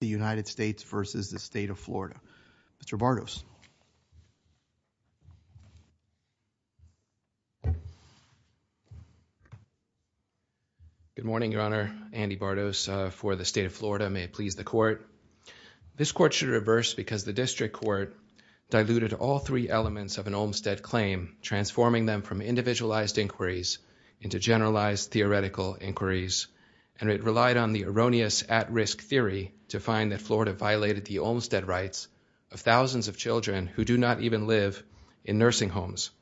the United States versus the State of Florida. Mr. Bartos. Good morning, Your Honor. Andy Bartos for the State of Florida. May it please the court. This court should reverse because the district court diluted all three elements of an Olmstead claim transforming them from individualized inquiries into generalized theoretical inquiries and it relied on the erroneous at-risk theory to find that Florida violated the Olmstead rights of thousands of children who do not even live in nursing homes.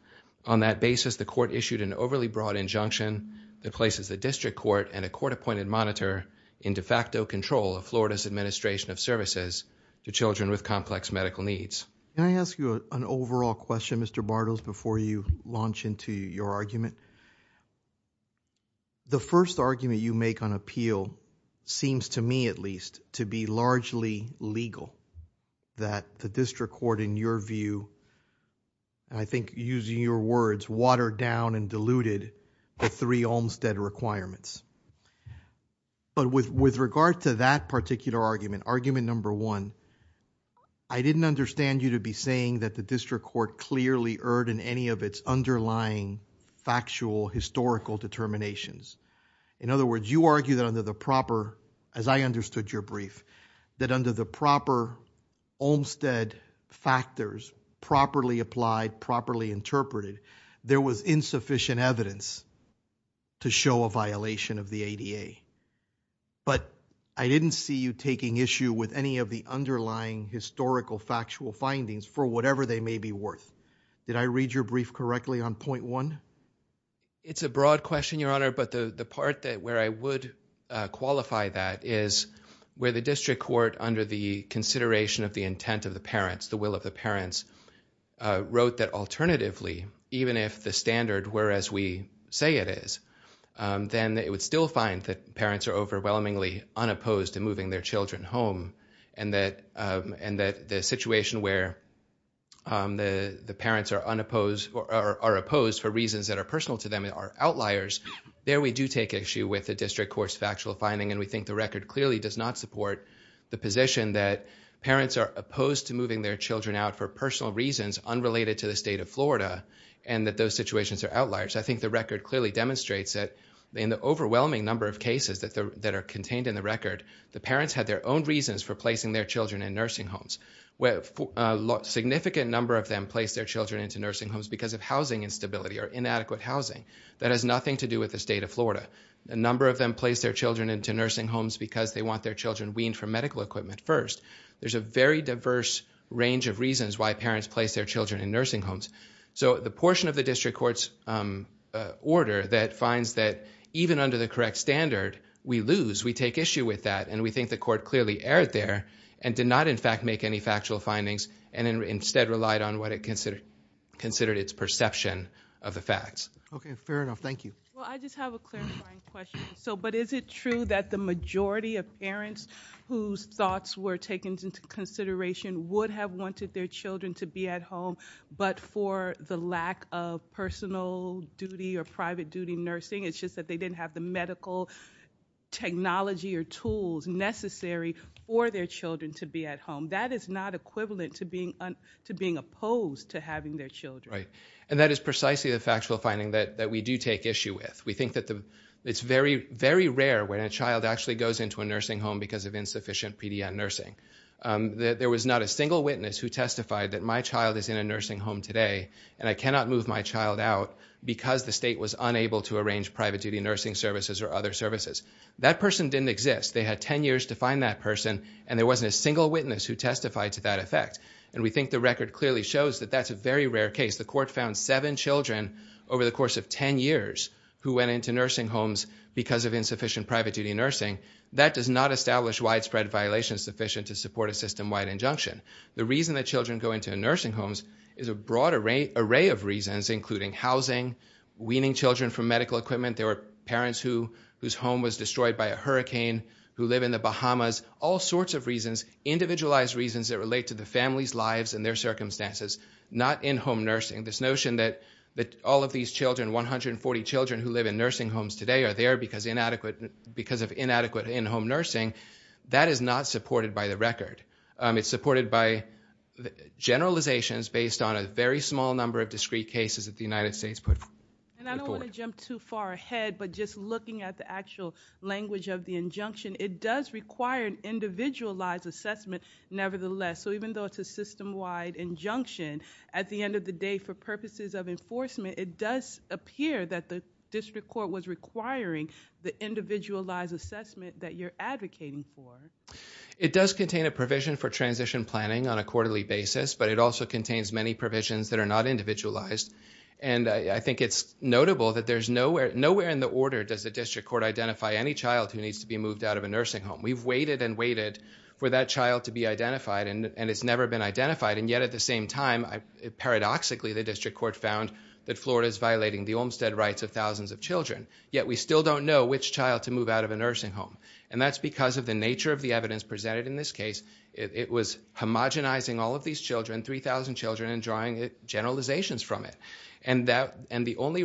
On that basis the court issued an overly broad injunction that places the district court and a court appointed monitor in de facto control of Florida's administration of services to children with complex medical needs. Can I ask you an overall question, Mr. Bartos, before you launch into your argument? The first argument you make on appeal seems to me at least to be largely legal that the district court in your view, I think using your words, watered down and diluted the three Olmstead requirements. But with regard to that particular argument, argument number one, I didn't understand you to be saying that the district court clearly erred in any of its underlying factual historical determinations. In other words, you argue that under the proper, as I understood your brief, that under the proper Olmstead factors, properly applied, properly interpreted, there was insufficient evidence to show a violation of the ADA. But I didn't see you taking issue with any of the underlying historical factual findings for whatever they may be worth. Did I read your brief correctly on point one? It's a broad question, Your Honor. But the part that where I would qualify that is where the district court under the consideration of the intent of the parents, the will of the parents, wrote that alternatively, even if the standard were as we say it is, then it would still find that parents are overwhelmingly unopposed to moving their children home. And that and that the situation where the reasons that are personal to them are outliers, there we do take issue with the district court's factual finding. And we think the record clearly does not support the position that parents are opposed to moving their children out for personal reasons unrelated to the state of Florida, and that those situations are outliers. I think the record clearly demonstrates that in the overwhelming number of cases that are contained in the record, the parents had their own reasons for placing their children in nursing homes, where a significant number of them place their children into nursing homes because of housing instability or inadequate housing. That has nothing to do with the state of Florida. A number of them place their children into nursing homes because they want their children weaned from medical equipment first. There's a very diverse range of reasons why parents place their children in nursing homes. So the portion of the district court's order that finds that even under the correct standard, we lose, we take issue with that, and we think the court clearly erred there and did not in fact make any factual findings and instead relied on what it considered its perception of the facts. Okay, fair enough. Thank you. So but is it true that the majority of parents whose thoughts were taken into consideration would have wanted their children to be at home, but for the lack of personal duty or private duty nursing, it's just that they didn't have the medical technology or tools necessary for their children to be at home. That is not equivalent to being opposed to having their children. Right, and that is precisely the factual finding that we do take issue with. We think that it's very, very rare when a child actually goes into a nursing home because of insufficient PDN nursing. There was not a single witness who testified that my child is in a nursing home today and I cannot move my child out because the state was unable to arrange private duty nursing services or other services. That person didn't exist. They had ten years to find that person and there wasn't a single witness who testified to that effect, and we think the record clearly shows that that's a very rare case. The court found seven children over the course of ten years who went into nursing homes because of insufficient private duty nursing. That does not establish widespread violations sufficient to support a system-wide injunction. The reason that children go into nursing homes is a broad array of reasons, including housing, weaning children from medical equipment. There were parents whose home was destroyed by a child who lived in the Bahamas. All sorts of reasons, individualized reasons that relate to the families' lives and their circumstances, not in-home nursing. This notion that all of these children, 140 children who live in nursing homes today are there because of inadequate in-home nursing, that is not supported by the record. It's supported by generalizations based on a very small number of discrete cases that the United States put forward. I don't want to jump too far ahead, but just looking at the actual language of the injunction, it does require an individualized assessment nevertheless. So even though it's a system-wide injunction, at the end of the day for purposes of enforcement, it does appear that the district court was requiring the individualized assessment that you're advocating for. It does contain a provision for transition planning on a quarterly basis, but it also is notable that nowhere in the order does the district court identify any child who needs to be moved out of a nursing home. We've waited and waited for that child to be identified, and it's never been identified. And yet at the same time, paradoxically, the district court found that Florida is violating the Olmstead rights of thousands of children, yet we still don't know which child to move out of a nursing home. And that's because of the nature of the evidence presented in this case. It was homogenizing all of these children, 3,000 children, and drawing generalizations from it. And the only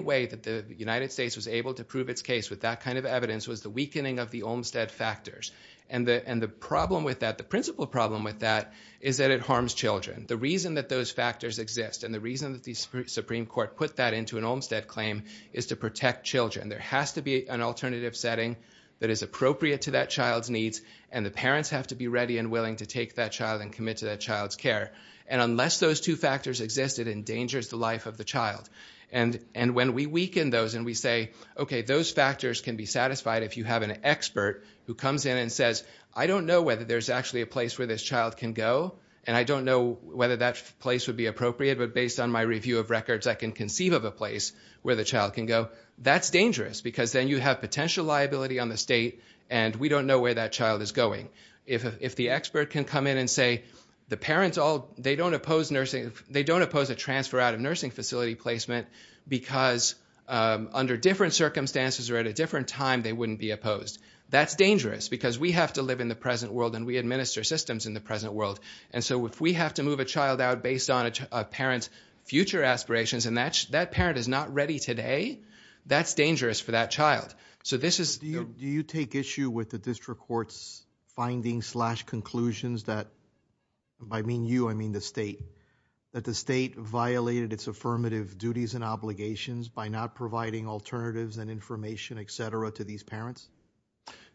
way that the United States was able to prove its case with that kind of evidence was the weakening of the Olmstead factors. And the problem with that, the principal problem with that, is that it harms children. The reason that those factors exist, and the reason that the Supreme Court put that into an Olmstead claim, is to protect children. There has to be an alternative setting that is appropriate to that child's needs, and the parents have to be ready and willing to take that child and commit to that child's care. And unless those two factors existed, it endangers the life of the child. And when we weaken those, and we say, okay, those factors can be satisfied if you have an expert who comes in and says, I don't know whether there's actually a place where this child can go, and I don't know whether that place would be appropriate, but based on my review of records, I can conceive of a place where the child can go. That's dangerous, because then you have potential liability on the state, and we don't know where that child is going. If the expert can come in and say, the parents all, they don't oppose nursing, they don't oppose a transfer out of nursing facility placement, because under different circumstances or at a different time, they wouldn't be opposed. That's dangerous, because we have to live in the present world, and we administer systems in the present world. And so if we have to move a child out based on a parent's future aspirations, and that parent is not ready today, that's dangerous for that child. So this is... Do you take issue with the district court's findings slash conclusions that, I mean you, I mean the state, that the state violated its affirmative duties and obligations by not providing alternatives and information, et cetera, to these parents?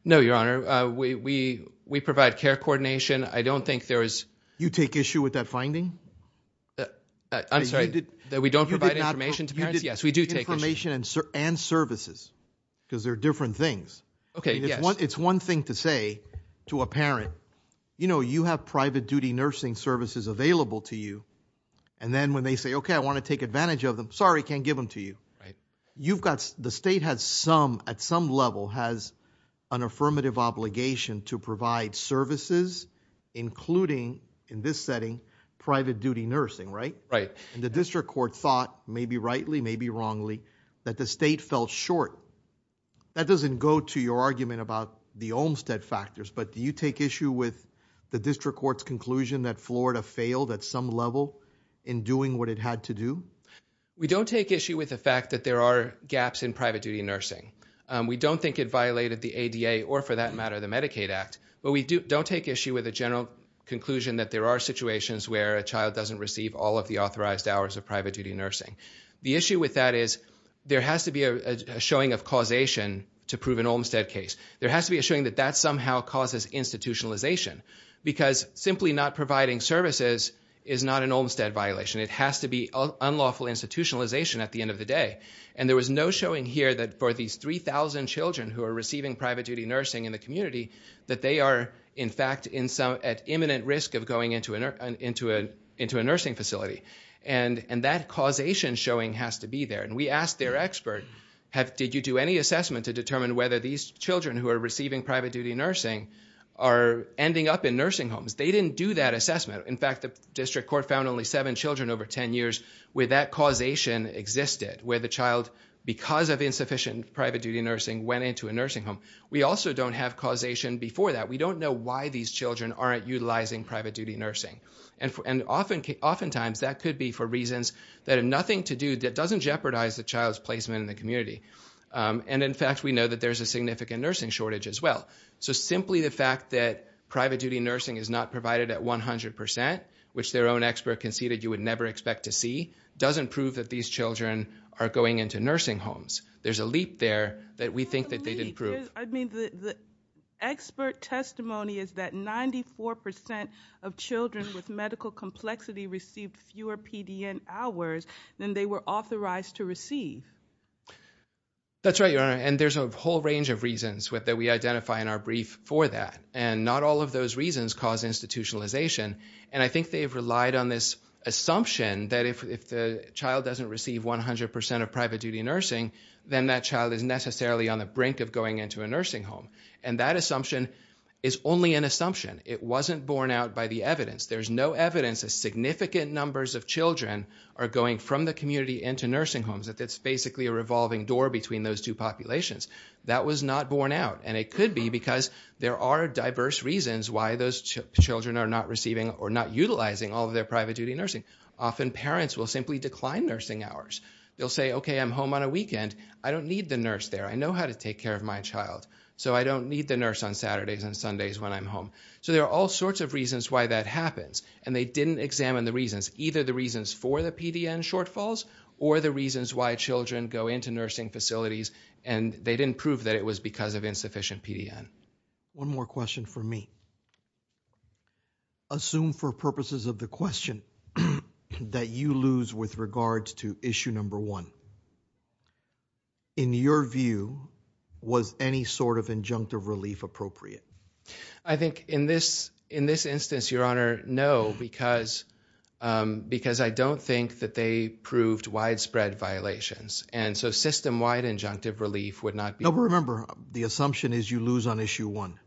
No, your honor. We provide care coordination. I don't think there is... You take issue with that finding? I'm sorry, that we don't provide information to parents? Yes, we do take issue. And services, because they're different things. Okay, yes. It's one thing to say to a parent, you know, you have private duty nursing services available to you. And then when they say, okay, I want to take advantage of them, sorry, can't give them to you. Right. You've got, the state has some, at some level has an affirmative obligation to provide services, including in this setting, private duty nursing, right? Right. And the district court thought, maybe rightly, maybe wrongly, that the state fell short. That doesn't go to your argument about the Olmstead factors, but do you take issue with the district court's conclusion that Florida failed at some level in doing what it had to do? We don't take issue with the fact that there are gaps in private duty nursing. We don't think it violated the ADA, or for that matter, the Medicaid Act. But we don't take issue with the general conclusion that there are situations where a child doesn't receive all of the authorized hours of private duty nursing. The issue with that is there has to be a showing of causation to prove an Olmstead case. There has to be a showing that that somehow causes institutionalization, because simply not providing services is not an Olmstead violation. It has to be unlawful institutionalization at the end of the day. And there was no showing here that for these 3,000 children who are receiving private duty into a nursing facility, and that causation showing has to be there. And we asked their expert, did you do any assessment to determine whether these children who are receiving private duty nursing are ending up in nursing homes? They didn't do that assessment. In fact, the district court found only seven children over 10 years where that causation existed, where the child, because of insufficient private duty nursing, went into a nursing home. We also don't have causation before that. We don't know why these children aren't utilizing private duty nursing. And oftentimes, that could be for reasons that have nothing to do, that doesn't jeopardize the child's placement in the community. And in fact, we know that there's a significant nursing shortage as well. So simply the fact that private duty nursing is not provided at 100%, which their own expert conceded you would never expect to see, doesn't prove that these children are going into nursing homes. There's a leap there that we think that they didn't prove. I mean, the expert testimony is that 94% of children with medical complexity received fewer PDN hours than they were authorized to receive. That's right, Your Honor. And there's a whole range of reasons that we identify in our brief for that. And not all of those reasons cause institutionalization. And I think they've relied on this assumption that if the child doesn't receive 100% of And that assumption is only an assumption. It wasn't borne out by the evidence. There's no evidence that significant numbers of children are going from the community into nursing homes. It's basically a revolving door between those two populations. That was not borne out. And it could be because there are diverse reasons why those children are not receiving or not utilizing all of their private duty nursing. Often parents will simply decline nursing hours. They'll say, OK, I'm home on a weekend. I don't need the nurse there. I know how to take care of my child. So I don't need the nurse on Saturdays and Sundays when I'm home. So there are all sorts of reasons why that happens. And they didn't examine the reasons, either the reasons for the PDN shortfalls or the reasons why children go into nursing facilities. And they didn't prove that it was because of insufficient PDN. One more question for me. Assume for purposes of the question that you lose with regards to issue number one. In your view, was any sort of injunctive relief appropriate? I think in this in this instance, your honor, no, because because I don't think that they proved widespread violations. And so system wide injunctive relief would not be remember. The assumption is you lose on issue one.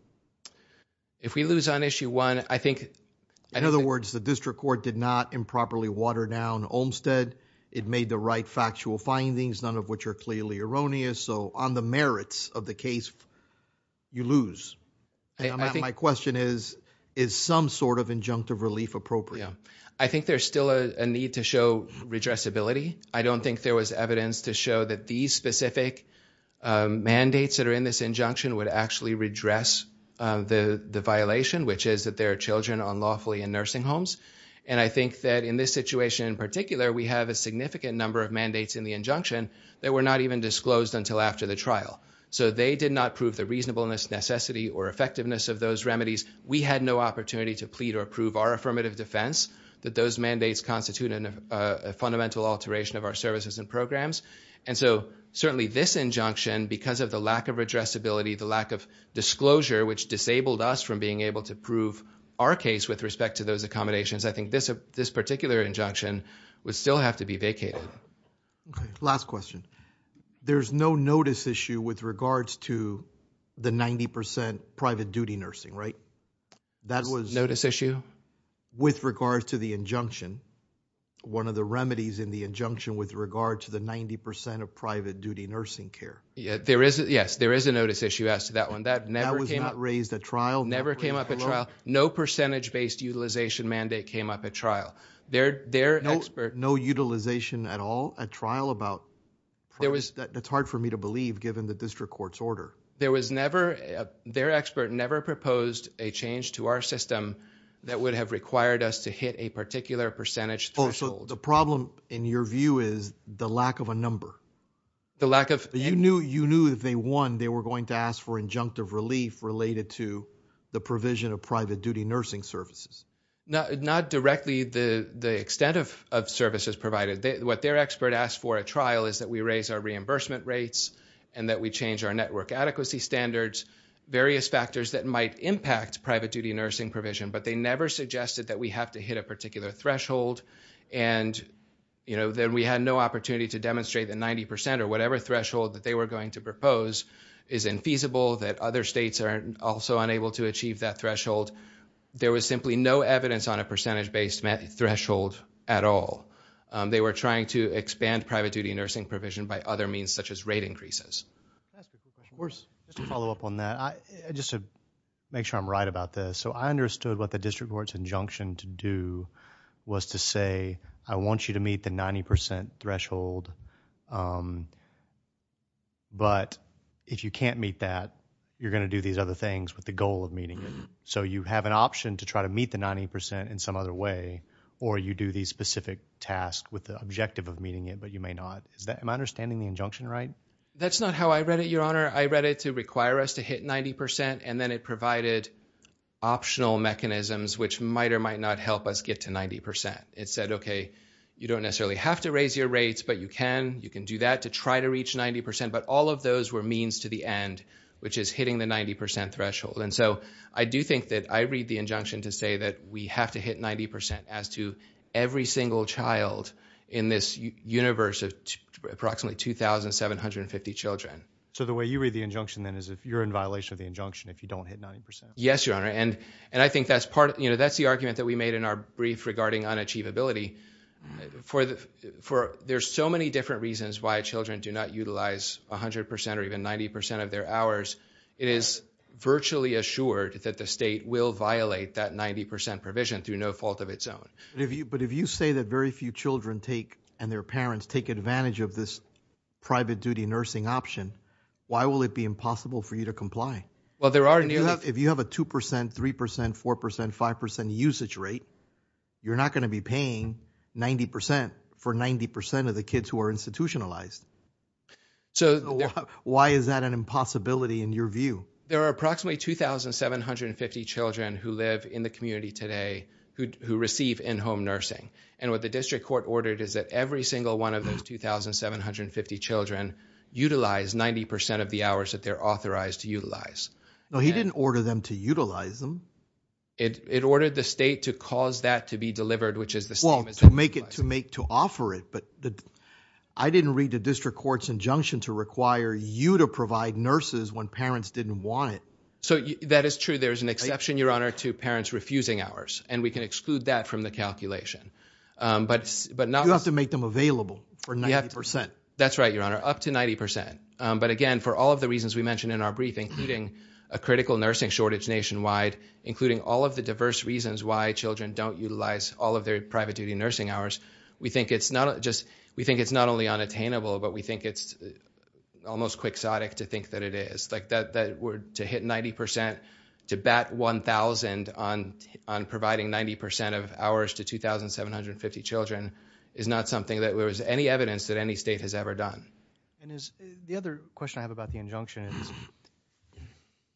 If we lose on issue one, I think in other words, the district court did not improperly water down Olmstead. It made the right factual findings, none of which are clearly erroneous. So on the merits of the case, you lose. My question is, is some sort of injunctive relief appropriate? Yeah, I think there's still a need to show redress ability. I don't think there was evidence to show that these specific mandates that are in this injunction would actually redress the violation, which is that there are children unlawfully in nursing homes. And I think that in this situation in particular, we have a significant number of mandates in the injunction that were not even disclosed until after the trial. So they did not prove the reasonableness, necessity or effectiveness of those remedies. We had no opportunity to plead or approve our affirmative defense that those mandates constitute a fundamental alteration of our services and programs. And so certainly this injunction, because of the lack of addressability, the lack of disclosure, which disabled us from being able to prove our case with respect to those accommodations, I think this particular injunction would still have to be vacated. Okay, last question. There's no notice issue with regards to the 90% private duty nursing, right? That was... Notice issue? With regards to the injunction, one of the remedies in the injunction with regard to the 90% of private duty nursing care. Yes, there is a notice issue as to that one. That was not raised at trial? Never came up at trial. No percentage-based utilization mandate came up at trial. Their expert... No utilization at all at trial about... There was... It's hard for me to believe, given the district court's order. There was never... Their expert never proposed a change to our system that would have required us to hit a particular percentage threshold. Oh, so the problem, in your view, is the lack of a number. The lack of... You knew if they won, they were going to ask for injunctive relief related to the provision of private duty nursing services. Not directly the extent of services provided. What their expert asked for at trial is that we raise our reimbursement rates and that we change our network adequacy standards, various factors that might impact private duty nursing provision. But they never suggested that we have to hit a particular threshold. And then we had no opportunity to demonstrate that 90% or whatever threshold that they were going to propose is infeasible, that other states are also unable to achieve that threshold. There was simply no evidence on a percentage-based threshold at all. They were trying to expand private duty nursing provision by other means, such as rate increases. Can I ask a quick question? Of course. Just to follow up on that, just to make sure I'm right about this. So I understood what the district court's injunction to do was to say, I want you to meet the 90% threshold, but if you can't meet that, you're going to do these other things with the goal of meeting it. So you have an option to try to meet the 90% in some other way, or you do these specific tasks with the objective of meeting it, but you may not. Am I understanding the injunction right? That's not how I read it, Your Honor. I read it to require us to hit 90%, and then it provided optional mechanisms which might or might not help us get to 90%. It said, okay, you don't necessarily have to raise your rates, but you can. You can do that to try to reach 90%, but all of those were means to the end, which is hitting the 90% threshold. And so I do think that I read the injunction to say that we have to hit 90% as to every single child in this universe of approximately 2,750 children. So the way you read the injunction then is you're in violation of the injunction if you don't hit 90%. Yes, Your Honor. And I think that's the argument that we made in our brief regarding unachievability. There's so many different reasons why children do not utilize 100% or even 90% of their hours. It is virtually assured that the state will violate that 90% provision through no fault of its own. But if you say that very few children and their parents take advantage of this private duty nursing option, why will it be impossible for you to comply? Well, there are nearly... If you have a 2%, 3%, 4%, 5% usage rate, you're not going to be paying 90% for 90% of the kids who are institutionalized. Why is that an impossibility in your view? There are approximately 2,750 children who live in the community today who receive in-home nursing. And what the district court ordered is that every single one of those 2,750 children utilize 90% of the hours that they're authorized to utilize. No, he didn't order them to utilize them. It ordered the state to cause that to be delivered, which is the same as... Well, to make it, to make, to offer it. But I didn't read the district court's injunction to require you to provide nurses when parents didn't want it. So that is true. There is an exception, Your Honor, to parents refusing hours. And we can exclude that from the calculation. But not... You have to make them available for 90%. That's right, Your Honor, up to 90%. But again, for all of the reasons we mentioned in our briefing, including a critical nursing shortage nationwide, including all of the diverse reasons why children don't utilize all of their private duty nursing hours, we think it's not just... We think it's not only unattainable, but we think it's almost quixotic to think that it is. To hit 90%, to bat 1,000 on providing 90% of hours to 2,750 children is not something that there was any evidence that any state has ever done. And the other question I have about the injunction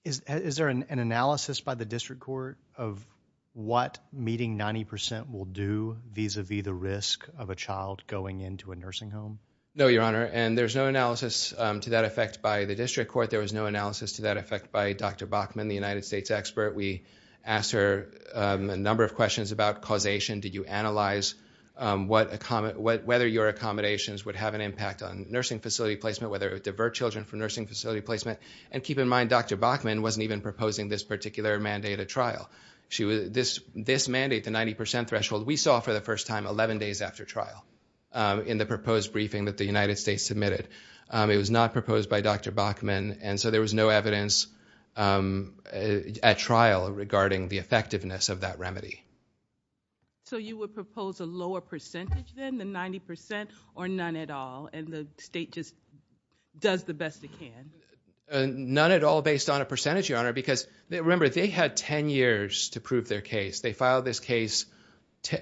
is, is there an analysis by the district court of what meeting 90% will do vis-a-vis the risk of a child going into a nursing home? No, Your Honor. And there's no analysis to that effect by the district court. There was no analysis to that effect by Dr. Bachman, the United States expert. We asked her a number of questions about causation. Did you analyze whether your accommodations would have an impact on nursing facility placement, whether it would divert children from nursing facility placement? And keep in mind, Dr. Bachman wasn't even proposing this particular mandate at trial. This mandate, the 90% threshold, we saw for the first time 11 days after trial in the proposed briefing that the United States submitted. It was not proposed by Dr. Bachman. And so there was no evidence at trial regarding the effectiveness of that remedy. You would propose a lower percentage than the 90% or none at all, and the state just does the best it can? None at all based on a percentage, Your Honor. Because remember, they had 10 years to prove their case. They filed this case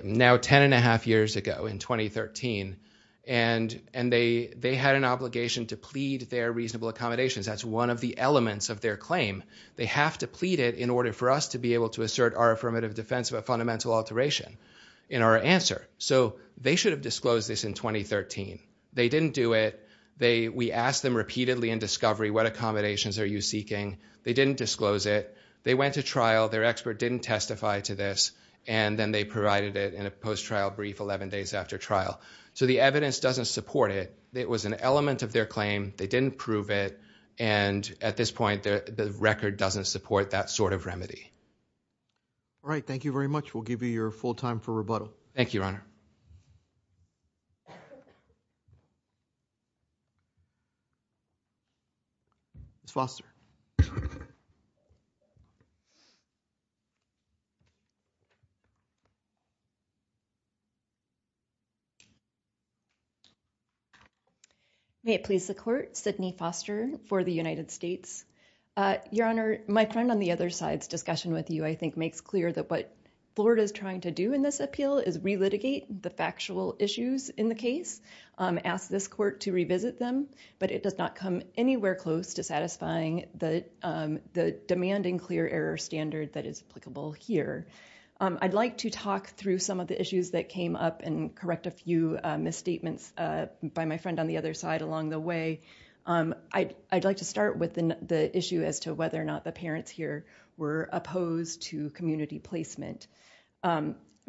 now 10 and a half years ago in 2013. And they had an obligation to plead their reasonable accommodations. That's one of the elements of their claim. They have to plead it in order for us to be able to assert our affirmative defense of a fundamental alteration. In our answer. So they should have disclosed this in 2013. They didn't do it. We asked them repeatedly in discovery, what accommodations are you seeking? They didn't disclose it. They went to trial. Their expert didn't testify to this. And then they provided it in a post-trial brief 11 days after trial. So the evidence doesn't support it. It was an element of their claim. They didn't prove it. And at this point, the record doesn't support that sort of remedy. All right. Thank you very much. We'll give you your full time for rebuttal. Thank you, Your Honor. Ms. Foster. May it please the court. Sydney Foster for the United States. Your Honor, my friend on the other side's discussion with you, I think makes clear that what Florida is trying to do in this appeal is relitigate the factual issues in the case. Ask this court to revisit them. But it does not come anywhere close to satisfying the demanding clear error standard that is applicable here. I'd like to talk through some of the issues that came up and correct a few misstatements by my friend on the other side along the way. I'd like to start with the issue as to whether or not the parents here were opposed to community placement.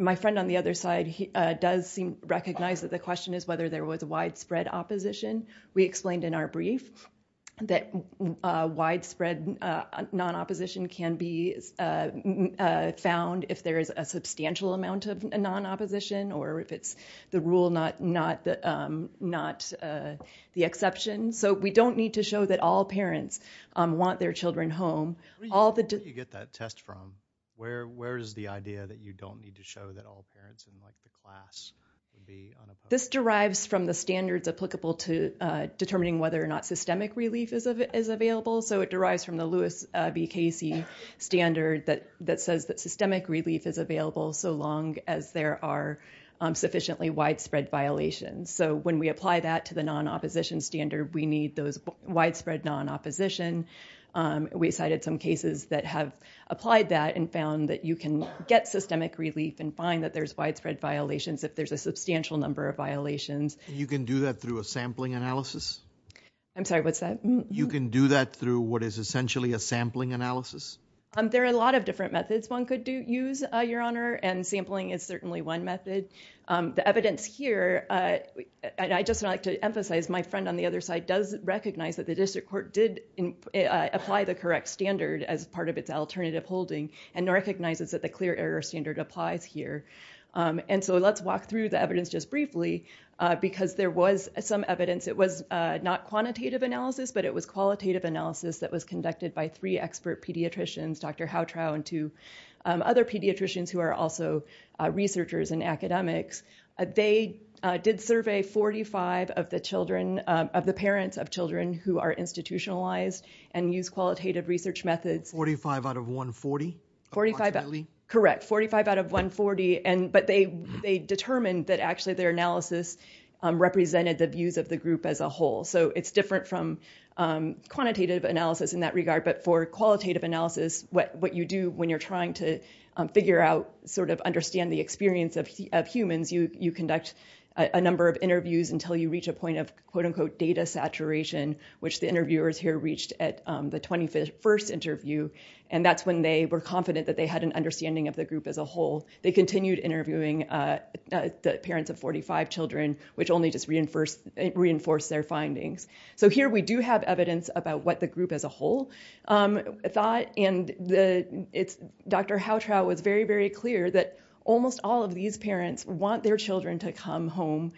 My friend on the other side does recognize that the question is whether there was widespread opposition. We explained in our brief that widespread non-opposition can be found if there is a substantial amount of non-opposition or if it's the rule, not the exception. So we don't need to show that all parents want their children home. Where do you get that test from? Where is the idea that you don't need to show that all parents in the class would be unopposed? This derives from the standards applicable to determining whether or not systemic relief is available. So it derives from the Lewis v. Casey standard that says that systemic relief is available so long as there are sufficiently widespread violations. So when we apply that to the non-opposition standard, we need those widespread non-opposition. We cited some cases that have applied that and found that you can get systemic relief and find that there's widespread violations if there's a substantial number of violations. You can do that through a sampling analysis? I'm sorry, what's that? You can do that through what is essentially a sampling analysis? There are a lot of different methods one could use, Your Honor, and sampling is certainly one method. The evidence here, and I'd just like to emphasize my friend on the other side does recognize that the district court did apply the correct standard as part of its alternative holding and recognizes that the clear error standard applies here. And so let's walk through the evidence just briefly because there was some evidence. It was not quantitative analysis, but it was qualitative analysis that was conducted by three expert pediatricians, Dr. Houtrou and two other pediatricians who are also researchers and academics. They did survey 45 of the parents of children who are institutionalized and use qualitative research methods. 45 out of 140? Correct, 45 out of 140. But they determined that actually their analysis represented the views of the group as a whole. So it's different from quantitative analysis in that regard. But for qualitative analysis, what you do when you're trying to figure out, sort of you conduct a number of interviews until you reach a point of, quote unquote, data saturation, which the interviewers here reached at the 21st interview. And that's when they were confident that they had an understanding of the group as a whole. They continued interviewing the parents of 45 children, which only just reinforced their findings. So here we do have evidence about what the group as a whole thought. And Dr. Houtrou was very, very clear that almost all of these parents want their children to come home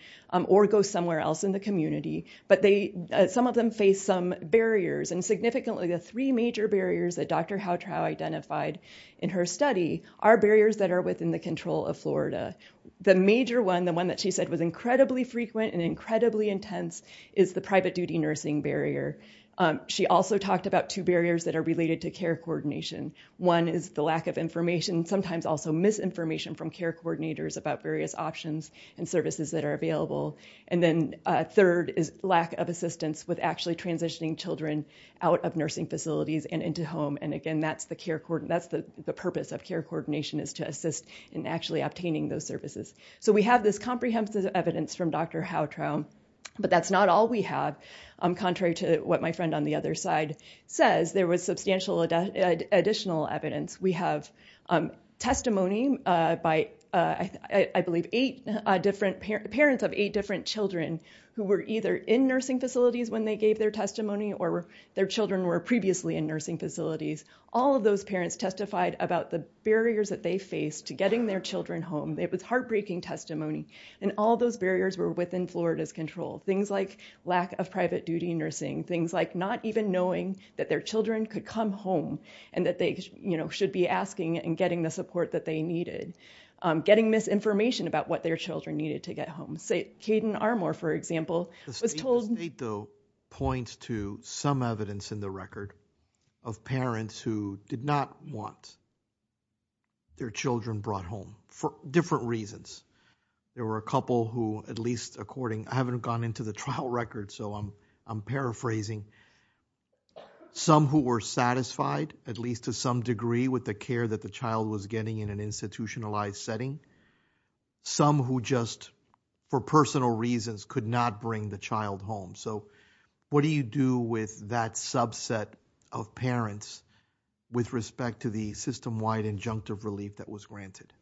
or go somewhere else in the community. But some of them face some barriers. And significantly, the three major barriers that Dr. Houtrou identified in her study are barriers that are within the control of Florida. The major one, the one that she said was incredibly frequent and incredibly intense, is the private duty nursing barrier. She also talked about two barriers that are related to care coordination. One is the lack of information, sometimes also misinformation from care coordinators about various options and services that are available. And then third is lack of assistance with actually transitioning children out of nursing facilities and into home. And again, that's the purpose of care coordination is to assist in actually obtaining those services. So we have this comprehensive evidence from Dr. Houtrou. But that's not all we have. Contrary to what my friend on the other side says, there was substantial additional evidence. We have testimony by, I believe, parents of eight different children who were either in nursing facilities when they gave their testimony or their children were previously in nursing facilities. All of those parents testified about the barriers that they faced to getting their children home. It was heartbreaking testimony. And all those barriers were within Florida's control. Things like lack of private duty nursing. Things like not even knowing that their children could come home and that they should be asking and getting the support that they needed. Getting misinformation about what their children needed to get home. Say Caden Armour, for example, was told- The state though points to some evidence in the record of parents who did not want their children brought home for different reasons. There were a couple who, at least according- I haven't gone into the trial record, so I'm paraphrasing. Some who were satisfied, at least to some degree, with the care that the child was getting in an institutionalized setting. Some who just, for personal reasons, could not bring the child home. So what do you do with that subset of parents with respect to the system-wide injunctive relief that was granted?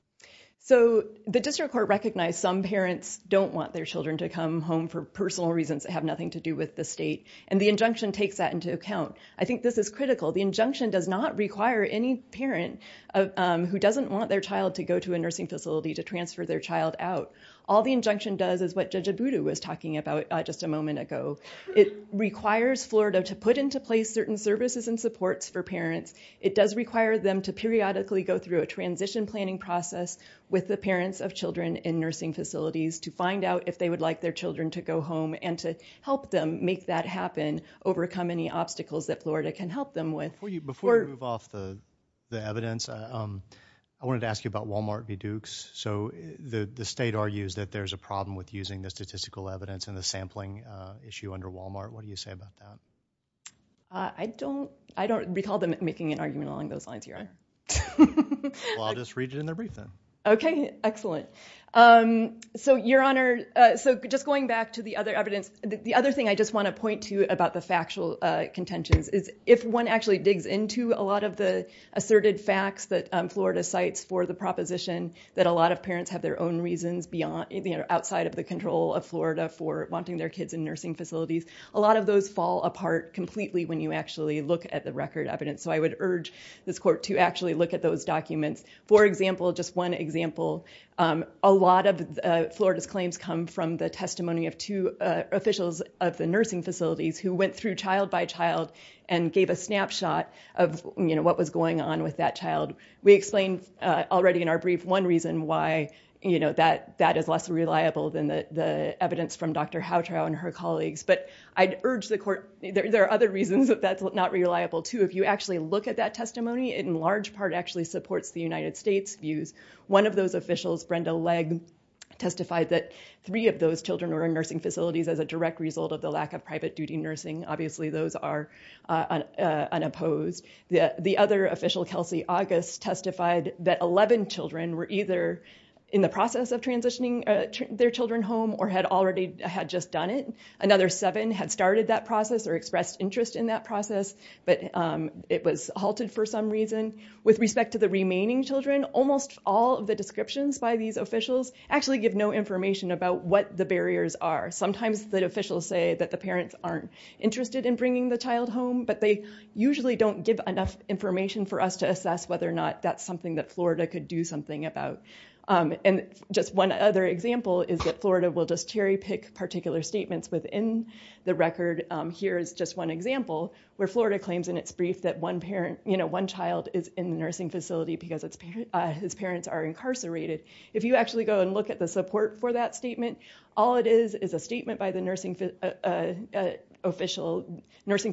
So the district court recognized some parents don't want their children to come home for personal reasons that have nothing to do with the state. And the injunction takes that into account. I think this is critical. The injunction does not require any parent who doesn't want their child to go to a nursing facility to transfer their child out. All the injunction does is what Judge Abudu was talking about just a moment ago. It requires Florida to put into place certain services and supports for parents. It does require them to periodically go through a transition planning process with the parents of children in nursing facilities to find out if they would like their children to go home and to help them make that happen, overcome any obstacles that Florida can help them with. Before you move off the evidence, I wanted to ask you about Walmart v. Dukes. So the state argues that there's a problem with using the statistical evidence and the sampling issue under Walmart. What do you say about that? I don't recall them making an argument along those lines, Your Honor. Well, I'll just read it in their brief then. Okay, excellent. So, Your Honor, just going back to the other evidence, the other thing I just want to point to about the factual contentions is if one actually digs into a lot of the asserted facts that Florida cites for the proposition that a lot of parents have their own reasons outside of the control of Florida for wanting their kids in nursing facilities, a lot of those fall apart completely when you actually look at the record evidence. So I would urge this court to actually look at those documents. For example, just one example, a lot of Florida's claims come from the testimony of two officials of the nursing facilities who went through child by child and gave a snapshot of what was going on with that child. We explained already in our brief one reason why that is less reliable than the evidence from Dr. Houtrow and her colleagues. But I'd urge the court, there are other reasons that that's not reliable too. If you actually look at that testimony, it in large part actually supports the United States' views. One of those officials, Brenda Legg, testified that three of those children were in nursing facilities as a direct result of the lack of private duty nursing. Obviously, those are unopposed. The other official, Kelsey August, testified that 11 children were either in the process of transitioning their children home or had already had just done it. Another seven had started that process or expressed interest in that process, but it was halted for some reason. With respect to the remaining children, almost all of the descriptions by these officials actually give no information about what the barriers are. Sometimes the officials say that the parents aren't interested in bringing the child home, but they usually don't give enough information for us to assess whether or not that's something that Florida could do something about. And just one other example is that Florida will just cherry pick particular statements within the record. Here is just one example where Florida claims in its brief that one child is in the nursing facility because his parents are incarcerated. If you actually go and look at the support for that statement, all it is is a statement by the nursing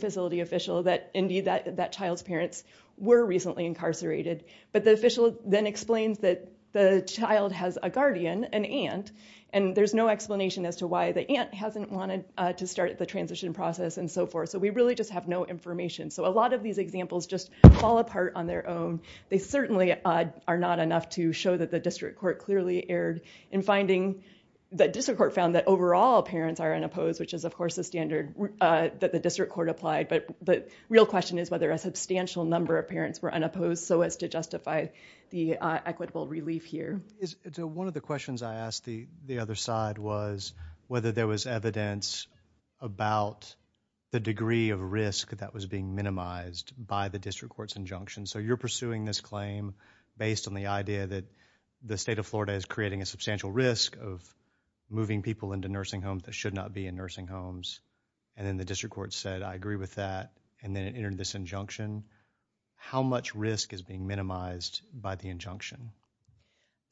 facility official that, indeed, that child's parents were recently incarcerated. But the official then explains that the child has a guardian, an aunt, and there's no to start the transition process and so forth. So we really just have no information. So a lot of these examples just fall apart on their own. They certainly are not enough to show that the district court clearly erred in finding that district court found that overall parents are unopposed, which is, of course, a standard that the district court applied. But the real question is whether a substantial number of parents were unopposed so as to justify the equitable relief here. One of the questions I asked the other side was whether there was evidence about the degree of risk that was being minimized by the district court's injunction. So you're pursuing this claim based on the idea that the state of Florida is creating a substantial risk of moving people into nursing homes that should not be in nursing homes. And then the district court said, I agree with that. And then it entered this injunction. How much risk is being minimized by the injunction?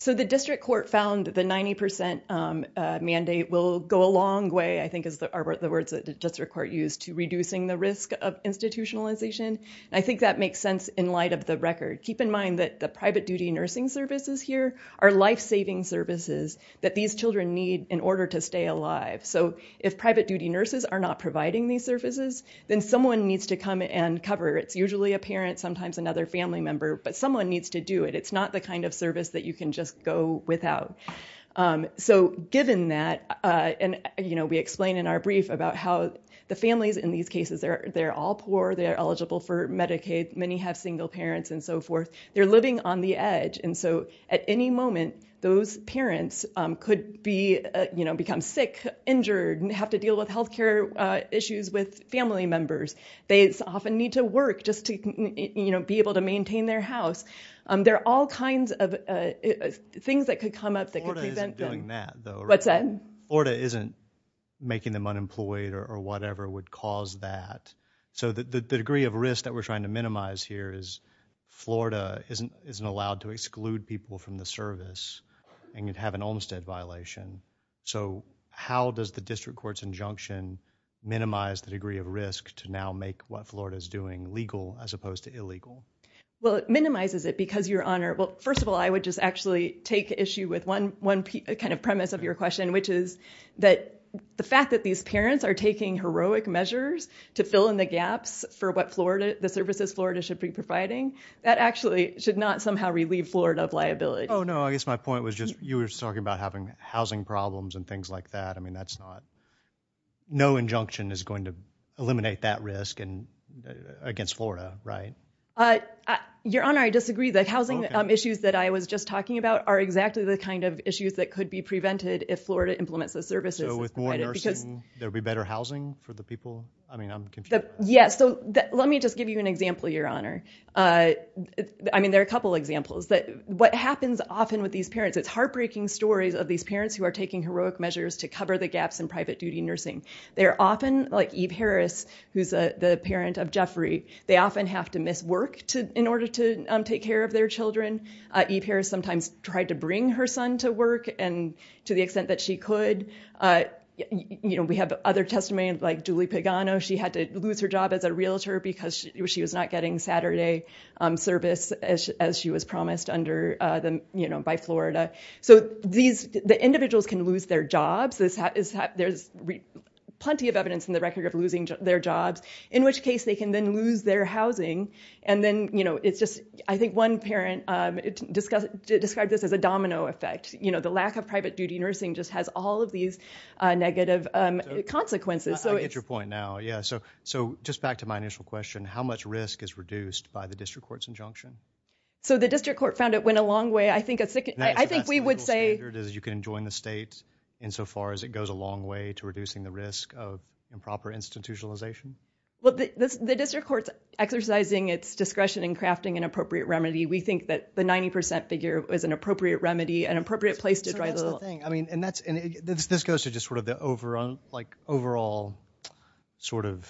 So the district court found that the 90 percent mandate will go a long way, I think, is the words that the district court used to reducing the risk of institutionalization. I think that makes sense in light of the record. Keep in mind that the private duty nursing services here are life-saving services that these children need in order to stay alive. So if private duty nurses are not providing these services, then someone needs to come and cover. It's usually a parent, sometimes another family member. But someone needs to do it. It's not the kind of service that you can just go without. So given that, and we explain in our brief about how the families in these cases, they're all poor. They're eligible for Medicaid. Many have single parents and so forth. They're living on the edge. And so at any moment, those parents could become sick, injured, and have to deal with health care issues with family members. They often need to work just to be able to maintain their house. There are all kinds of things that could come up that could prevent them. Florida isn't doing that, though. What's that? Florida isn't making them unemployed or whatever would cause that. So the degree of risk that we're trying to minimize here is Florida isn't allowed to exclude people from the service and could have an Olmstead violation. So how does the district court's injunction minimize the degree of risk to now make what Florida is doing legal as opposed to illegal? Well, it minimizes it because your honor. Well, first of all, I would just actually take issue with one kind of premise of your question, which is that the fact that these parents are taking heroic measures to fill in the gaps for what Florida, the services Florida should be providing, that actually should not somehow relieve Florida of liability. Oh, no, I guess my point was just you were talking about having housing problems and things like that. I mean, that's not no injunction is going to eliminate that risk and against Florida, right? Uh, your honor, I disagree. The housing issues that I was just talking about are exactly the kind of issues that could be prevented if Florida implements the services. So with more nursing, there'll be better housing for the people. I mean, I'm confused. Yes. So let me just give you an example, your honor. I mean, there are a couple examples that what happens often with these parents, it's heartbreaking stories of these parents who are taking heroic measures to cover the gaps in private duty nursing. They're often like Eve Harris, who's the parent of Jeffrey. They often have to miss work in order to take care of their children. Eve Harris sometimes tried to bring her son to work and to the extent that she could. You know, we have other testimonies like Julie Pagano. She had to lose her job as a realtor because she was not getting Saturday service as she was promised by Florida. So the individuals can lose their jobs. There's plenty of evidence in the record of losing their jobs, in which case they can then lose their housing. And then, you know, it's just I think one parent described this as a domino effect. You know, the lack of private duty nursing just has all of these negative consequences. So I get your point now. Yeah. So just back to my initial question, how much risk is reduced by the district court's injunction? So the district court found it went a long way. I think we would say you can join the state insofar as it goes a long way to reducing the risk of improper institutionalization. Well, the district court's exercising its discretion in crafting an appropriate remedy. We think that the 90 percent figure is an appropriate remedy, an appropriate place to try the thing. I mean, and that's this goes to just sort of the overall like overall sort of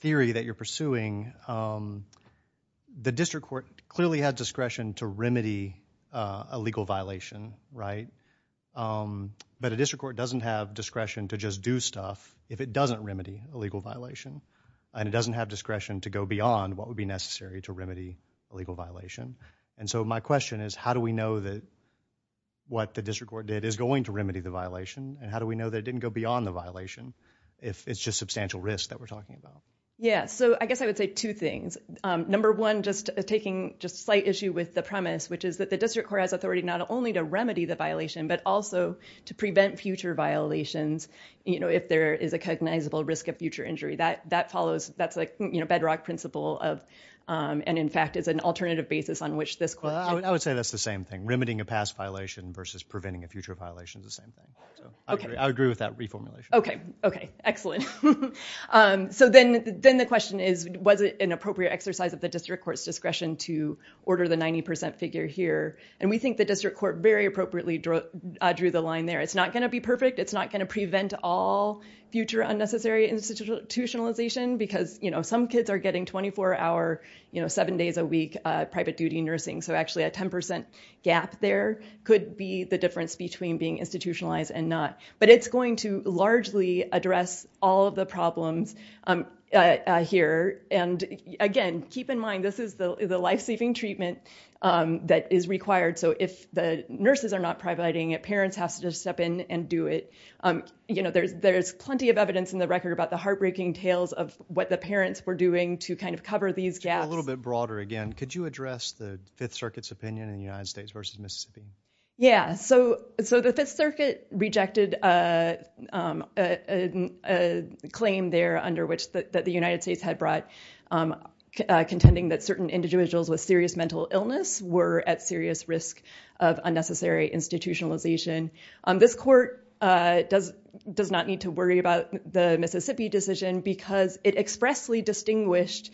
theory that you're pursuing. The district court clearly had discretion to remedy a legal violation, right? But a district court doesn't have discretion to just do stuff if it doesn't remedy a legal violation. And it doesn't have discretion to go beyond what would be necessary to remedy a legal violation. And so my question is, how do we know that what the district court did is going to remedy the violation? And how do we know that it didn't go beyond the violation if it's just substantial risk that we're talking about? Yeah. So I guess I would say two things. Number one, just taking just a slight issue with the premise, which is that the district court has authority not only to remedy the violation, but also to prevent future violations if there is a cognizable risk of future injury. That follows, that's like bedrock principle of, and in fact, is an alternative basis on which this question. I would say that's the same thing. Remedying a past violation versus preventing a future violation is the same thing. So I agree with that reformulation. OK. OK, excellent. So then the question is, was it an appropriate exercise of the district court's discretion to order the 90% figure here? And we think the district court very appropriately drew the line there. It's not going to be perfect. It's not going to prevent all future unnecessary institutionalization. Because some kids are getting 24-hour, seven days a week private duty nursing. So actually, a 10% gap there could be the difference between being institutionalized and not. But it's going to largely address all of the problems here. And again, keep in mind, this is the life-saving treatment that is required. So if the nurses are not providing it, parents have to step in and do it. There's plenty of evidence in the record about the heartbreaking tales of what the parents were doing to kind of cover these gaps. A little bit broader again. Could you address the Fifth Circuit's opinion in the United States versus Mississippi? Yeah. So the Fifth Circuit rejected a claim there that the United States had brought contending that certain individuals with serious mental illness were at serious risk of unnecessary institutionalization. This court does not need to worry about the Mississippi decision because it expressly distinguished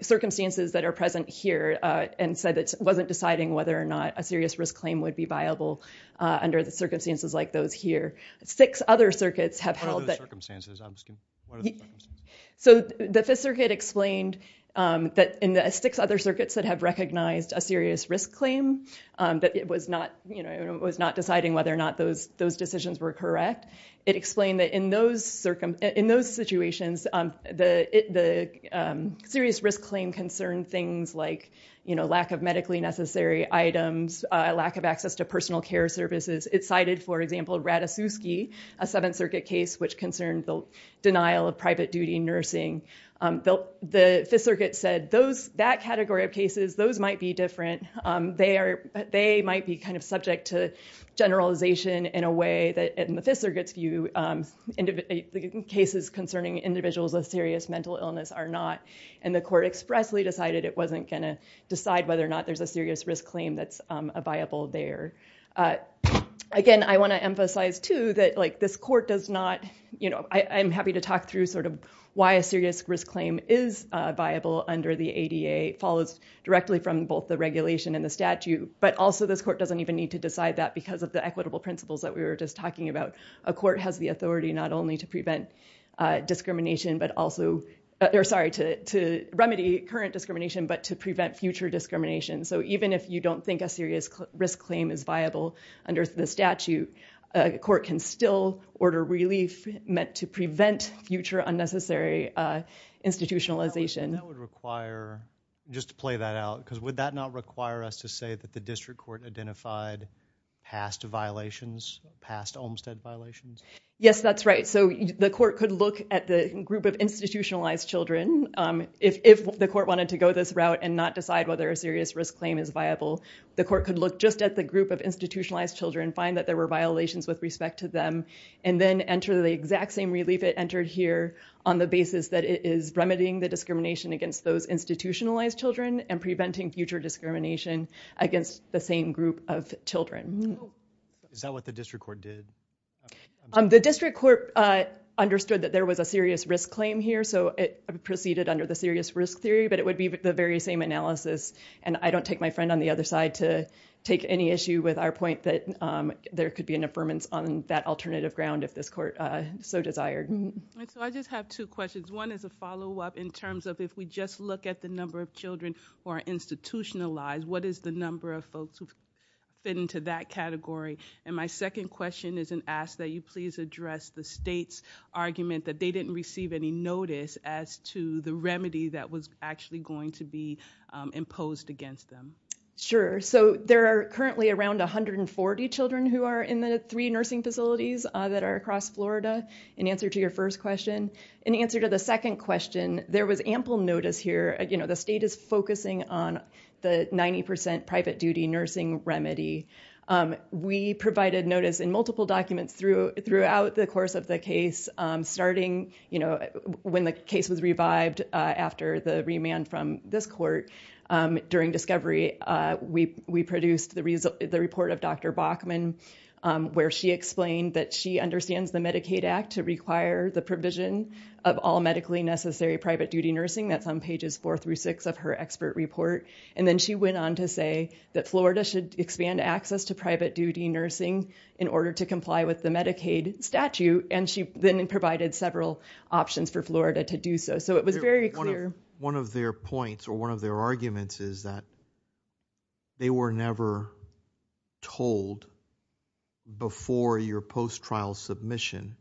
circumstances that are present here and said it wasn't deciding whether or not a serious risk claim would be viable under the circumstances like those here. Six other circuits have held that. What are the circumstances? I'm just curious. What are the circumstances? So the Fifth Circuit explained that in the six other circuits that have recognized a serious risk claim, that it was not deciding whether or not those decisions were correct. It explained that in those situations, the serious risk claim concerned things like lack of medically necessary items, a lack of access to personal care services. It cited, for example, Ratasiewski, a Seventh Circuit case which concerned the denial of private duty nursing. The Fifth Circuit said that category of cases, those might be different. They might be kind of subject to generalization in a way that in the Fifth Circuit's view, cases concerning individuals with serious mental illness are not. And the court expressly decided it wasn't going to decide whether or not there's a serious risk claim that's viable there. Again, I want to emphasize, too, that this court does not, you know, I'm happy to talk through sort of why a serious risk claim is viable under the ADA. It follows directly from both the regulation and the statute. But also, this court doesn't even need to decide that because of the equitable principles that we were just talking about. A court has the authority not only to prevent discrimination but also, or sorry, to remedy current discrimination but to prevent future discrimination. So even if you don't think a serious risk claim is viable under the statute, a court can still order relief meant to prevent future unnecessary institutionalization. That would require, just to play that out, because would that not require us to say that district court identified past violations, past Olmstead violations? Yes, that's right. So the court could look at the group of institutionalized children. If the court wanted to go this route and not decide whether a serious risk claim is viable, the court could look just at the group of institutionalized children, find that there were violations with respect to them, and then enter the exact same relief it entered here on the basis that it is remedying the discrimination against those institutionalized against the same group of children. Is that what the district court did? The district court understood that there was a serious risk claim here, so it proceeded under the serious risk theory, but it would be the very same analysis, and I don't take my friend on the other side to take any issue with our point that there could be an affirmance on that alternative ground if this court so desired. I just have two questions. One is a follow-up in terms of if we just look at the number of children who are institutionalized, what is the number of folks who fit into that category? And my second question is an ask that you please address the state's argument that they didn't receive any notice as to the remedy that was actually going to be imposed against them. Sure. So there are currently around 140 children who are in the three nursing facilities that are across Florida, in answer to your first question. In answer to the second question, there was ample notice here. The state is focusing on the 90% private duty nursing remedy. We provided notice in multiple documents throughout the course of the case, starting when the case was revived after the remand from this court. During discovery, we produced the report of Dr. Bachman, where she explained that she understands the Medicaid Act to require the provision of all medically necessary private duty nursing. That's on pages four through six of her expert report. And then she went on to say that Florida should expand access to private duty nursing in order to comply with the Medicaid statute. And she then provided several options for Florida to do so. So it was very clear. One of their points or one of their arguments is that they were never told before your post submission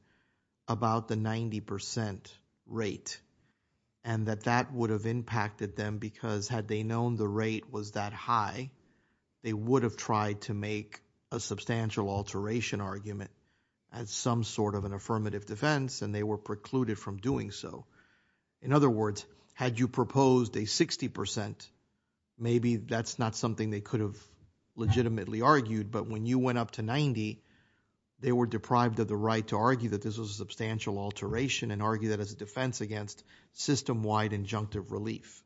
about the 90% rate and that that would have impacted them because had they known the rate was that high, they would have tried to make a substantial alteration argument as some sort of an affirmative defense and they were precluded from doing so. In other words, had you proposed a 60%, maybe that's not something they could have legitimately argued. But when you went up to 90, they were deprived of the right to argue that this was a substantial alteration and argue that as a defense against system-wide injunctive relief.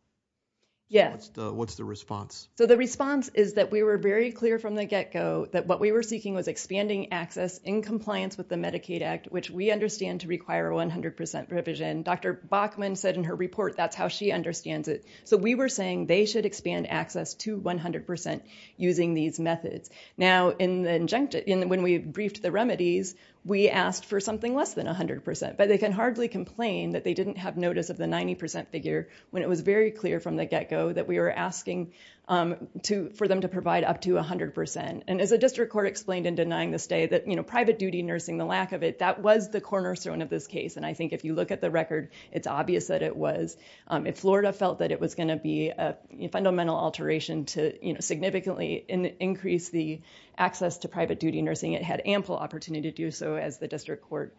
Yes. What's the response? So the response is that we were very clear from the get-go that what we were seeking was expanding access in compliance with the Medicaid Act, which we understand to require 100% provision. Dr. Bachman said in her report, that's how she understands it. So we were saying they should expand access to 100% using these methods. Now, when we briefed the remedies, we asked for something less than 100%, but they can hardly complain that they didn't have notice of the 90% figure when it was very clear from the get-go that we were asking for them to provide up to 100%. And as a district court explained in denying the stay, that private duty nursing, the lack of it, that was the cornerstone of this case. And I think if you look at the record, it's obvious that it was. If Florida felt that it was going to be a fundamental alteration to significantly increase the access to private duty nursing, it had ample opportunity to do so as the district court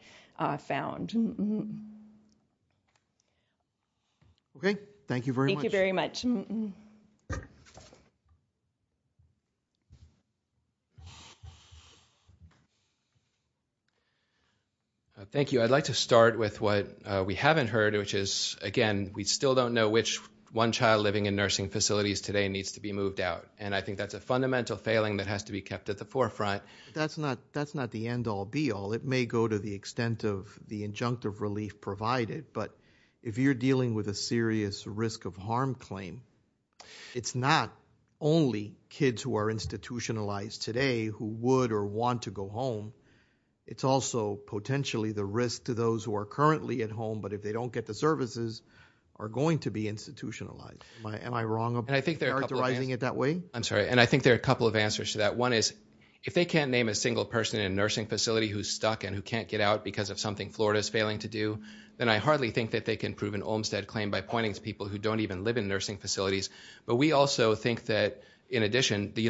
found. OK. Thank you very much. Thank you very much. Thank you. I'd like to start with what we haven't heard, which is, again, we still don't know which one child living in nursing facilities today needs to be moved out. And I think that's a fundamental failing that has to be kept at the forefront. That's not the end-all, be-all. It may go to the extent of the injunctive relief provided. But if you're dealing with a serious risk of harm claim, it's not only kids who are currently at home, but if they don't get the services, are going to be institutionalized. Am I wrong about characterizing it that way? I'm sorry. And I think there are a couple of answers to that. One is, if they can't name a single person in a nursing facility who's stuck and who can't get out because of something Florida is failing to do, then I hardly think that they can prove an Olmstead claim by pointing to people who don't even live in nursing facilities. But we also think that, in addition, the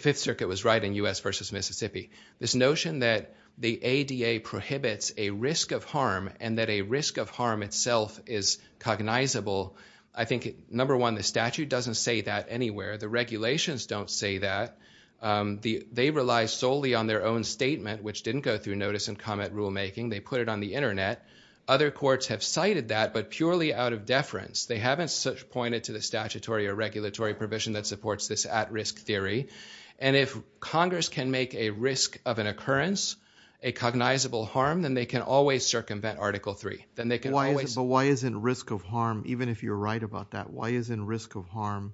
Fifth Circuit was right in U.S. versus Mississippi. This notion that the ADA prohibits a risk of harm and that a risk of harm itself is cognizable, I think, number one, the statute doesn't say that anywhere. The regulations don't say that. They rely solely on their own statement, which didn't go through notice and comment rule making. They put it on the internet. Other courts have cited that, but purely out of deference. They haven't pointed to the statutory or regulatory provision that supports this at-risk theory. And if Congress can make a risk of an occurrence a cognizable harm, then they can always circumvent Article 3. But why isn't risk of harm, even if you're right about that, why isn't risk of harm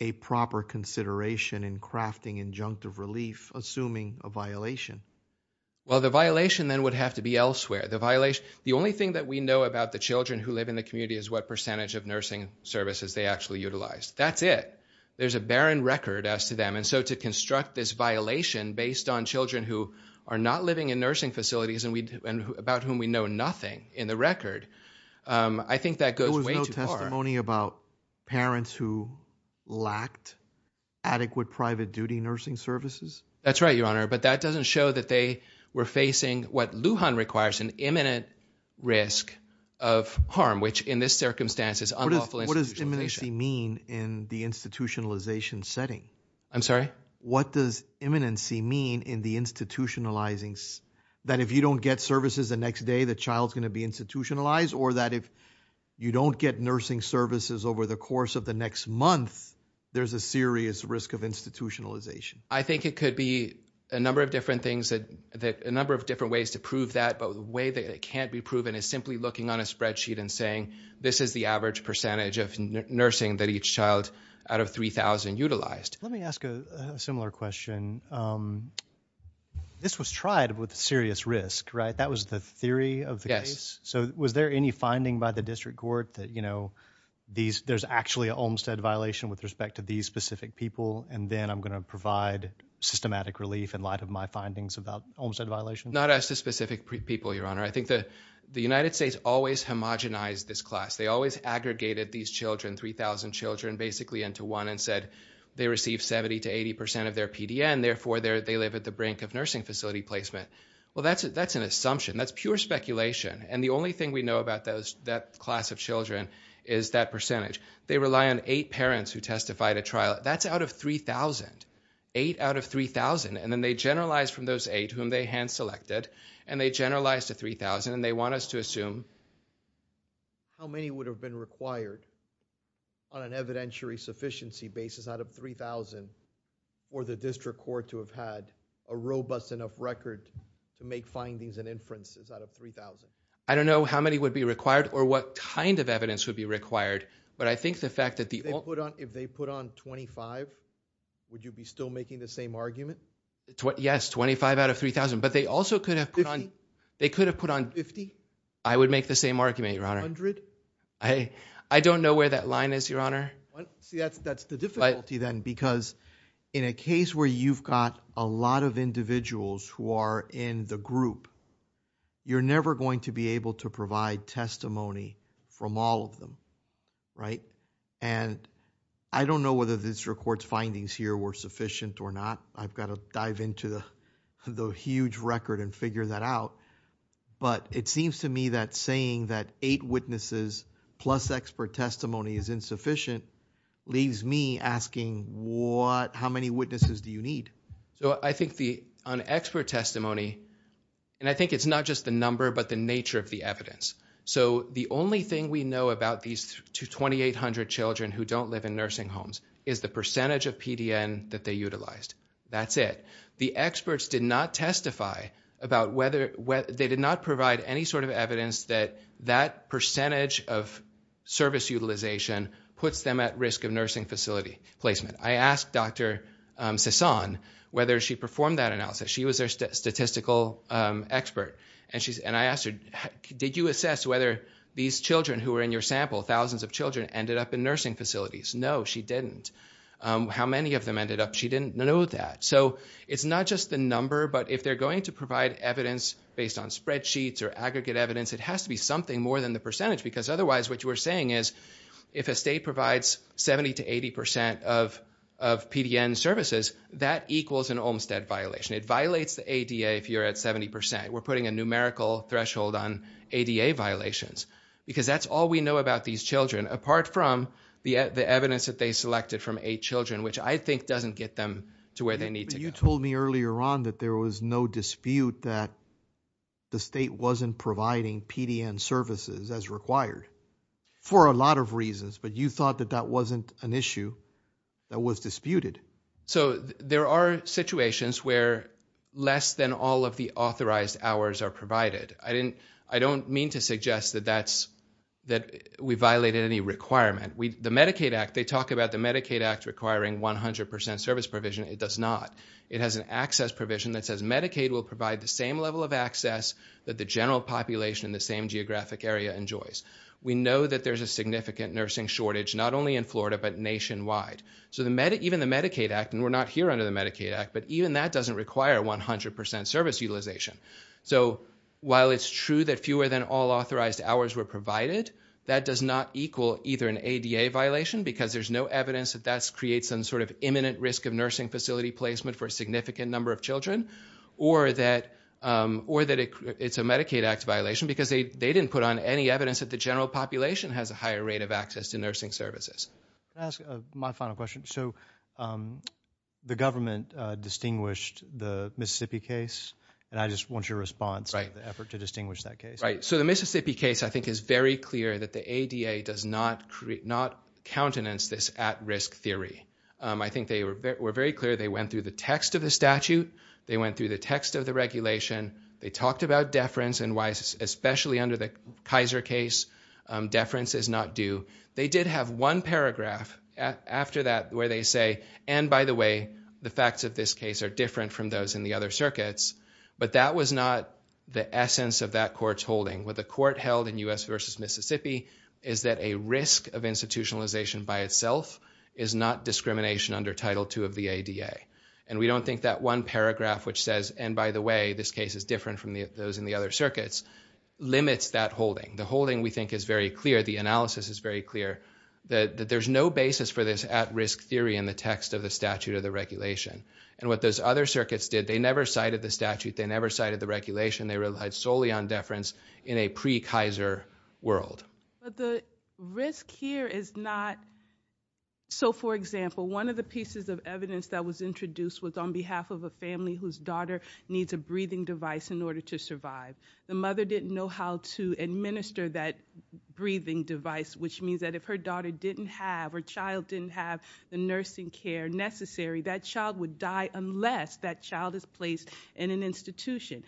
a proper consideration in crafting injunctive relief, assuming a violation? Well, the violation then would have to be elsewhere. The only thing that we know about the children who live in the community is what percentage of nursing services they actually utilize. That's it. There's a barren record as to them. And so to construct this violation based on children who are not living in nursing facilities and about whom we know nothing in the record, I think that goes way too far. There was no testimony about parents who lacked adequate private duty nursing services? That's right, Your Honor. But that doesn't show that they were facing what Lujan requires, an imminent risk of harm, which in this circumstance is unlawful institutionalization. In the institutionalization setting? I'm sorry? What does imminency mean in the institutionalizing, that if you don't get services the next day, the child's going to be institutionalized or that if you don't get nursing services over the course of the next month, there's a serious risk of institutionalization? I think it could be a number of different ways to prove that. But the way that it can't be proven is simply looking on a spreadsheet and saying, this is the average percentage of nursing that each child out of 3,000 utilized. Let me ask a similar question. This was tried with serious risk, right? That was the theory of the case. So was there any finding by the district court that there's actually an Olmstead violation with respect to these specific people and then I'm going to provide systematic relief in light of my findings about Olmstead violations? Not as to specific people, Your Honor. The United States always homogenized this class. They always aggregated these children, 3,000 children, basically into one and said they received 70% to 80% of their PDN. Therefore, they live at the brink of nursing facility placement. Well, that's an assumption. That's pure speculation. And the only thing we know about that class of children is that percentage. They rely on eight parents who testified at trial. That's out of 3,000. Eight out of 3,000. And then they generalized from those eight, whom they hand-selected, and they generalized to 3,000 and they want us to assume. How many would have been required on an evidentiary sufficiency basis out of 3,000 for the district court to have had a robust enough record to make findings and inferences out of 3,000? I don't know how many would be required or what kind of evidence would be required, but I think the fact that the... If they put on 25, would you be still making the same argument? Yes, 25 out of 3,000. But they also could have put on... 50. They could have put on... 50? I would make the same argument, Your Honor. 100? I don't know where that line is, Your Honor. That's the difficulty then, because in a case where you've got a lot of individuals who are in the group, you're never going to be able to provide testimony from all of them, right? And I don't know whether this district court's findings here were sufficient or not. I've got to dive into the huge record and figure that out. But it seems to me that saying that eight witnesses plus expert testimony is insufficient leaves me asking, what... How many witnesses do you need? So I think the... On expert testimony, and I think it's not just the number, but the nature of the evidence. So the only thing we know about these 2,800 children who don't live in nursing homes is the percentage of PDN that they utilized. That's it. The experts did not testify about whether... They did not provide any sort of evidence that that percentage of service utilization puts them at risk of nursing facility placement. I asked Dr. Cezanne whether she performed that analysis. She was their statistical expert. And I asked her, did you assess whether these children who were in your sample, thousands of children, ended up in nursing facilities? No, she didn't. How many of them ended up? She didn't know that. So it's not just the number, but if they're going to provide evidence based on spreadsheets or aggregate evidence, it has to be something more than the percentage. Because otherwise, what you are saying is, if a state provides 70 to 80 percent of PDN services, that equals an Olmstead violation. It violates the ADA if you're at 70 percent. We're putting a numerical threshold on ADA violations. Because that's all we know about these children, apart from the evidence that they selected from eight children, which I think doesn't get them to where they need to go. But you told me earlier on that there was no dispute that the state wasn't providing PDN services as required, for a lot of reasons. But you thought that that wasn't an issue that was disputed. So there are situations where less than all of the authorized hours are provided. I don't mean to suggest that we violated any requirement. The Medicaid Act, they talk about the Medicaid Act requiring 100 percent service provision. It does not. It has an access provision that says Medicaid will provide the same level of access that the general population in the same geographic area enjoys. We know that there's a significant nursing shortage, not only in Florida, but nationwide. So even the Medicaid Act, and we're not here under the Medicaid Act, but even that doesn't require 100 percent service utilization. So while it's true that fewer than all authorized hours were provided, that does not equal either an ADA violation, because there's no evidence that that creates some sort of imminent risk of nursing facility placement for a significant number of children, or that it's a Medicaid Act violation, because they didn't put on any evidence that the general population has a higher rate of access to nursing services. Can I ask my final question? So the government distinguished the Mississippi case. And I just want your response to the effort to distinguish that case. Right. So the Mississippi case, I think, is very clear that the ADA does not countenance this at-risk theory. I think they were very clear. They went through the text of the statute. They went through the text of the regulation. They talked about deference, and why, especially under the Kaiser case, deference is not due. They did have one paragraph after that where they say, and by the way, the facts of this case are different from those in the other circuits. But that was not the essence of that court's holding. What the court held in U.S. versus Mississippi is that a risk of institutionalization by itself is not discrimination under Title II of the ADA. And we don't think that one paragraph which says, and by the way, this case is different from those in the other circuits, limits that holding. The holding, we think, is very clear. The analysis is very clear that there's no basis for this at-risk theory in the text of the statute or the regulation. And what those other circuits did, they never cited the statute. They never cited the regulation. They relied solely on deference in a pre-Kaiser world. But the risk here is not, so for example, one of the pieces of evidence that was introduced was on behalf of a family whose daughter needs a breathing device in order to survive. The mother didn't know how to administer that breathing device, which means that if her daughter didn't have or child didn't have the nursing care necessary, that child would die unless that child is placed in an institution.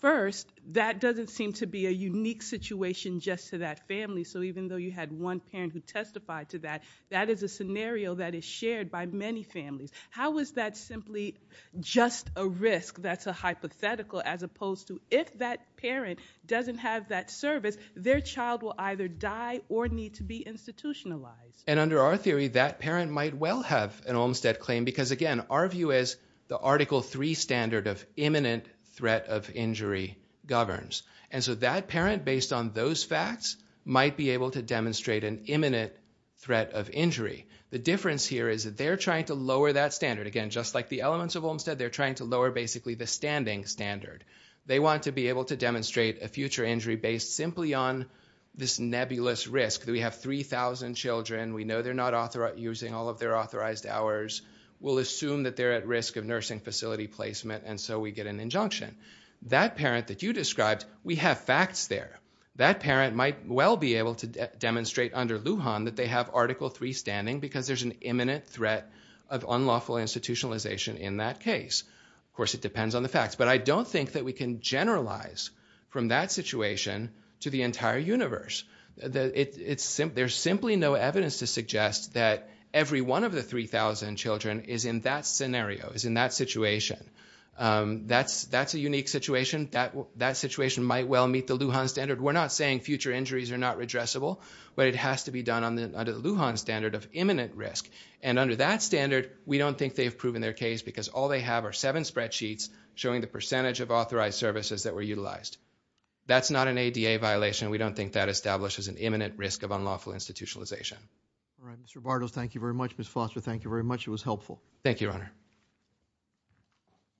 First, that doesn't seem to be a unique situation just to that family. So even though you had one parent who testified to that, that is a scenario that is shared by many families. How is that simply just a risk that's a hypothetical as opposed to if that parent doesn't have that service, their child will either die or need to be institutionalized? And under our theory, that parent might well have an Olmstead claim because, again, our view is the Article III standard of imminent threat of injury governs. And so that parent, based on those facts, might be able to demonstrate an imminent threat of injury. The difference here is that they're trying to lower that standard. Again, just like the elements of Olmstead, they're trying to lower basically the standing standard. They want to be able to demonstrate a future injury based simply on this nebulous risk that we have 3,000 children, we know they're not using all of their authorized hours, we'll assume that they're at risk of nursing facility placement, and so we get an injunction. That parent that you described, we have facts there. That parent might well be able to demonstrate under Lujan that they have Article III standing because there's an imminent threat of unlawful institutionalization in that case. Of course, it depends on the facts. But I don't think that we can generalize from that situation to the entire universe. It's simple. There's simply no evidence to suggest that every one of the 3,000 children is in that scenario, is in that situation. That's a unique situation. That situation might well meet the Lujan standard. We're not saying future injuries are not redressable, but it has to be done under the Lujan standard of imminent risk. And under that standard, we don't think they have proven their case because all they have are seven spreadsheets showing the percentage of authorized services that were utilized. That's not an ADA violation. We don't think that establishes an imminent risk of unlawful institutionalization. All right, Mr. Bartels, thank you very much. Ms. Foster, thank you very much. Thank you, Your Honor.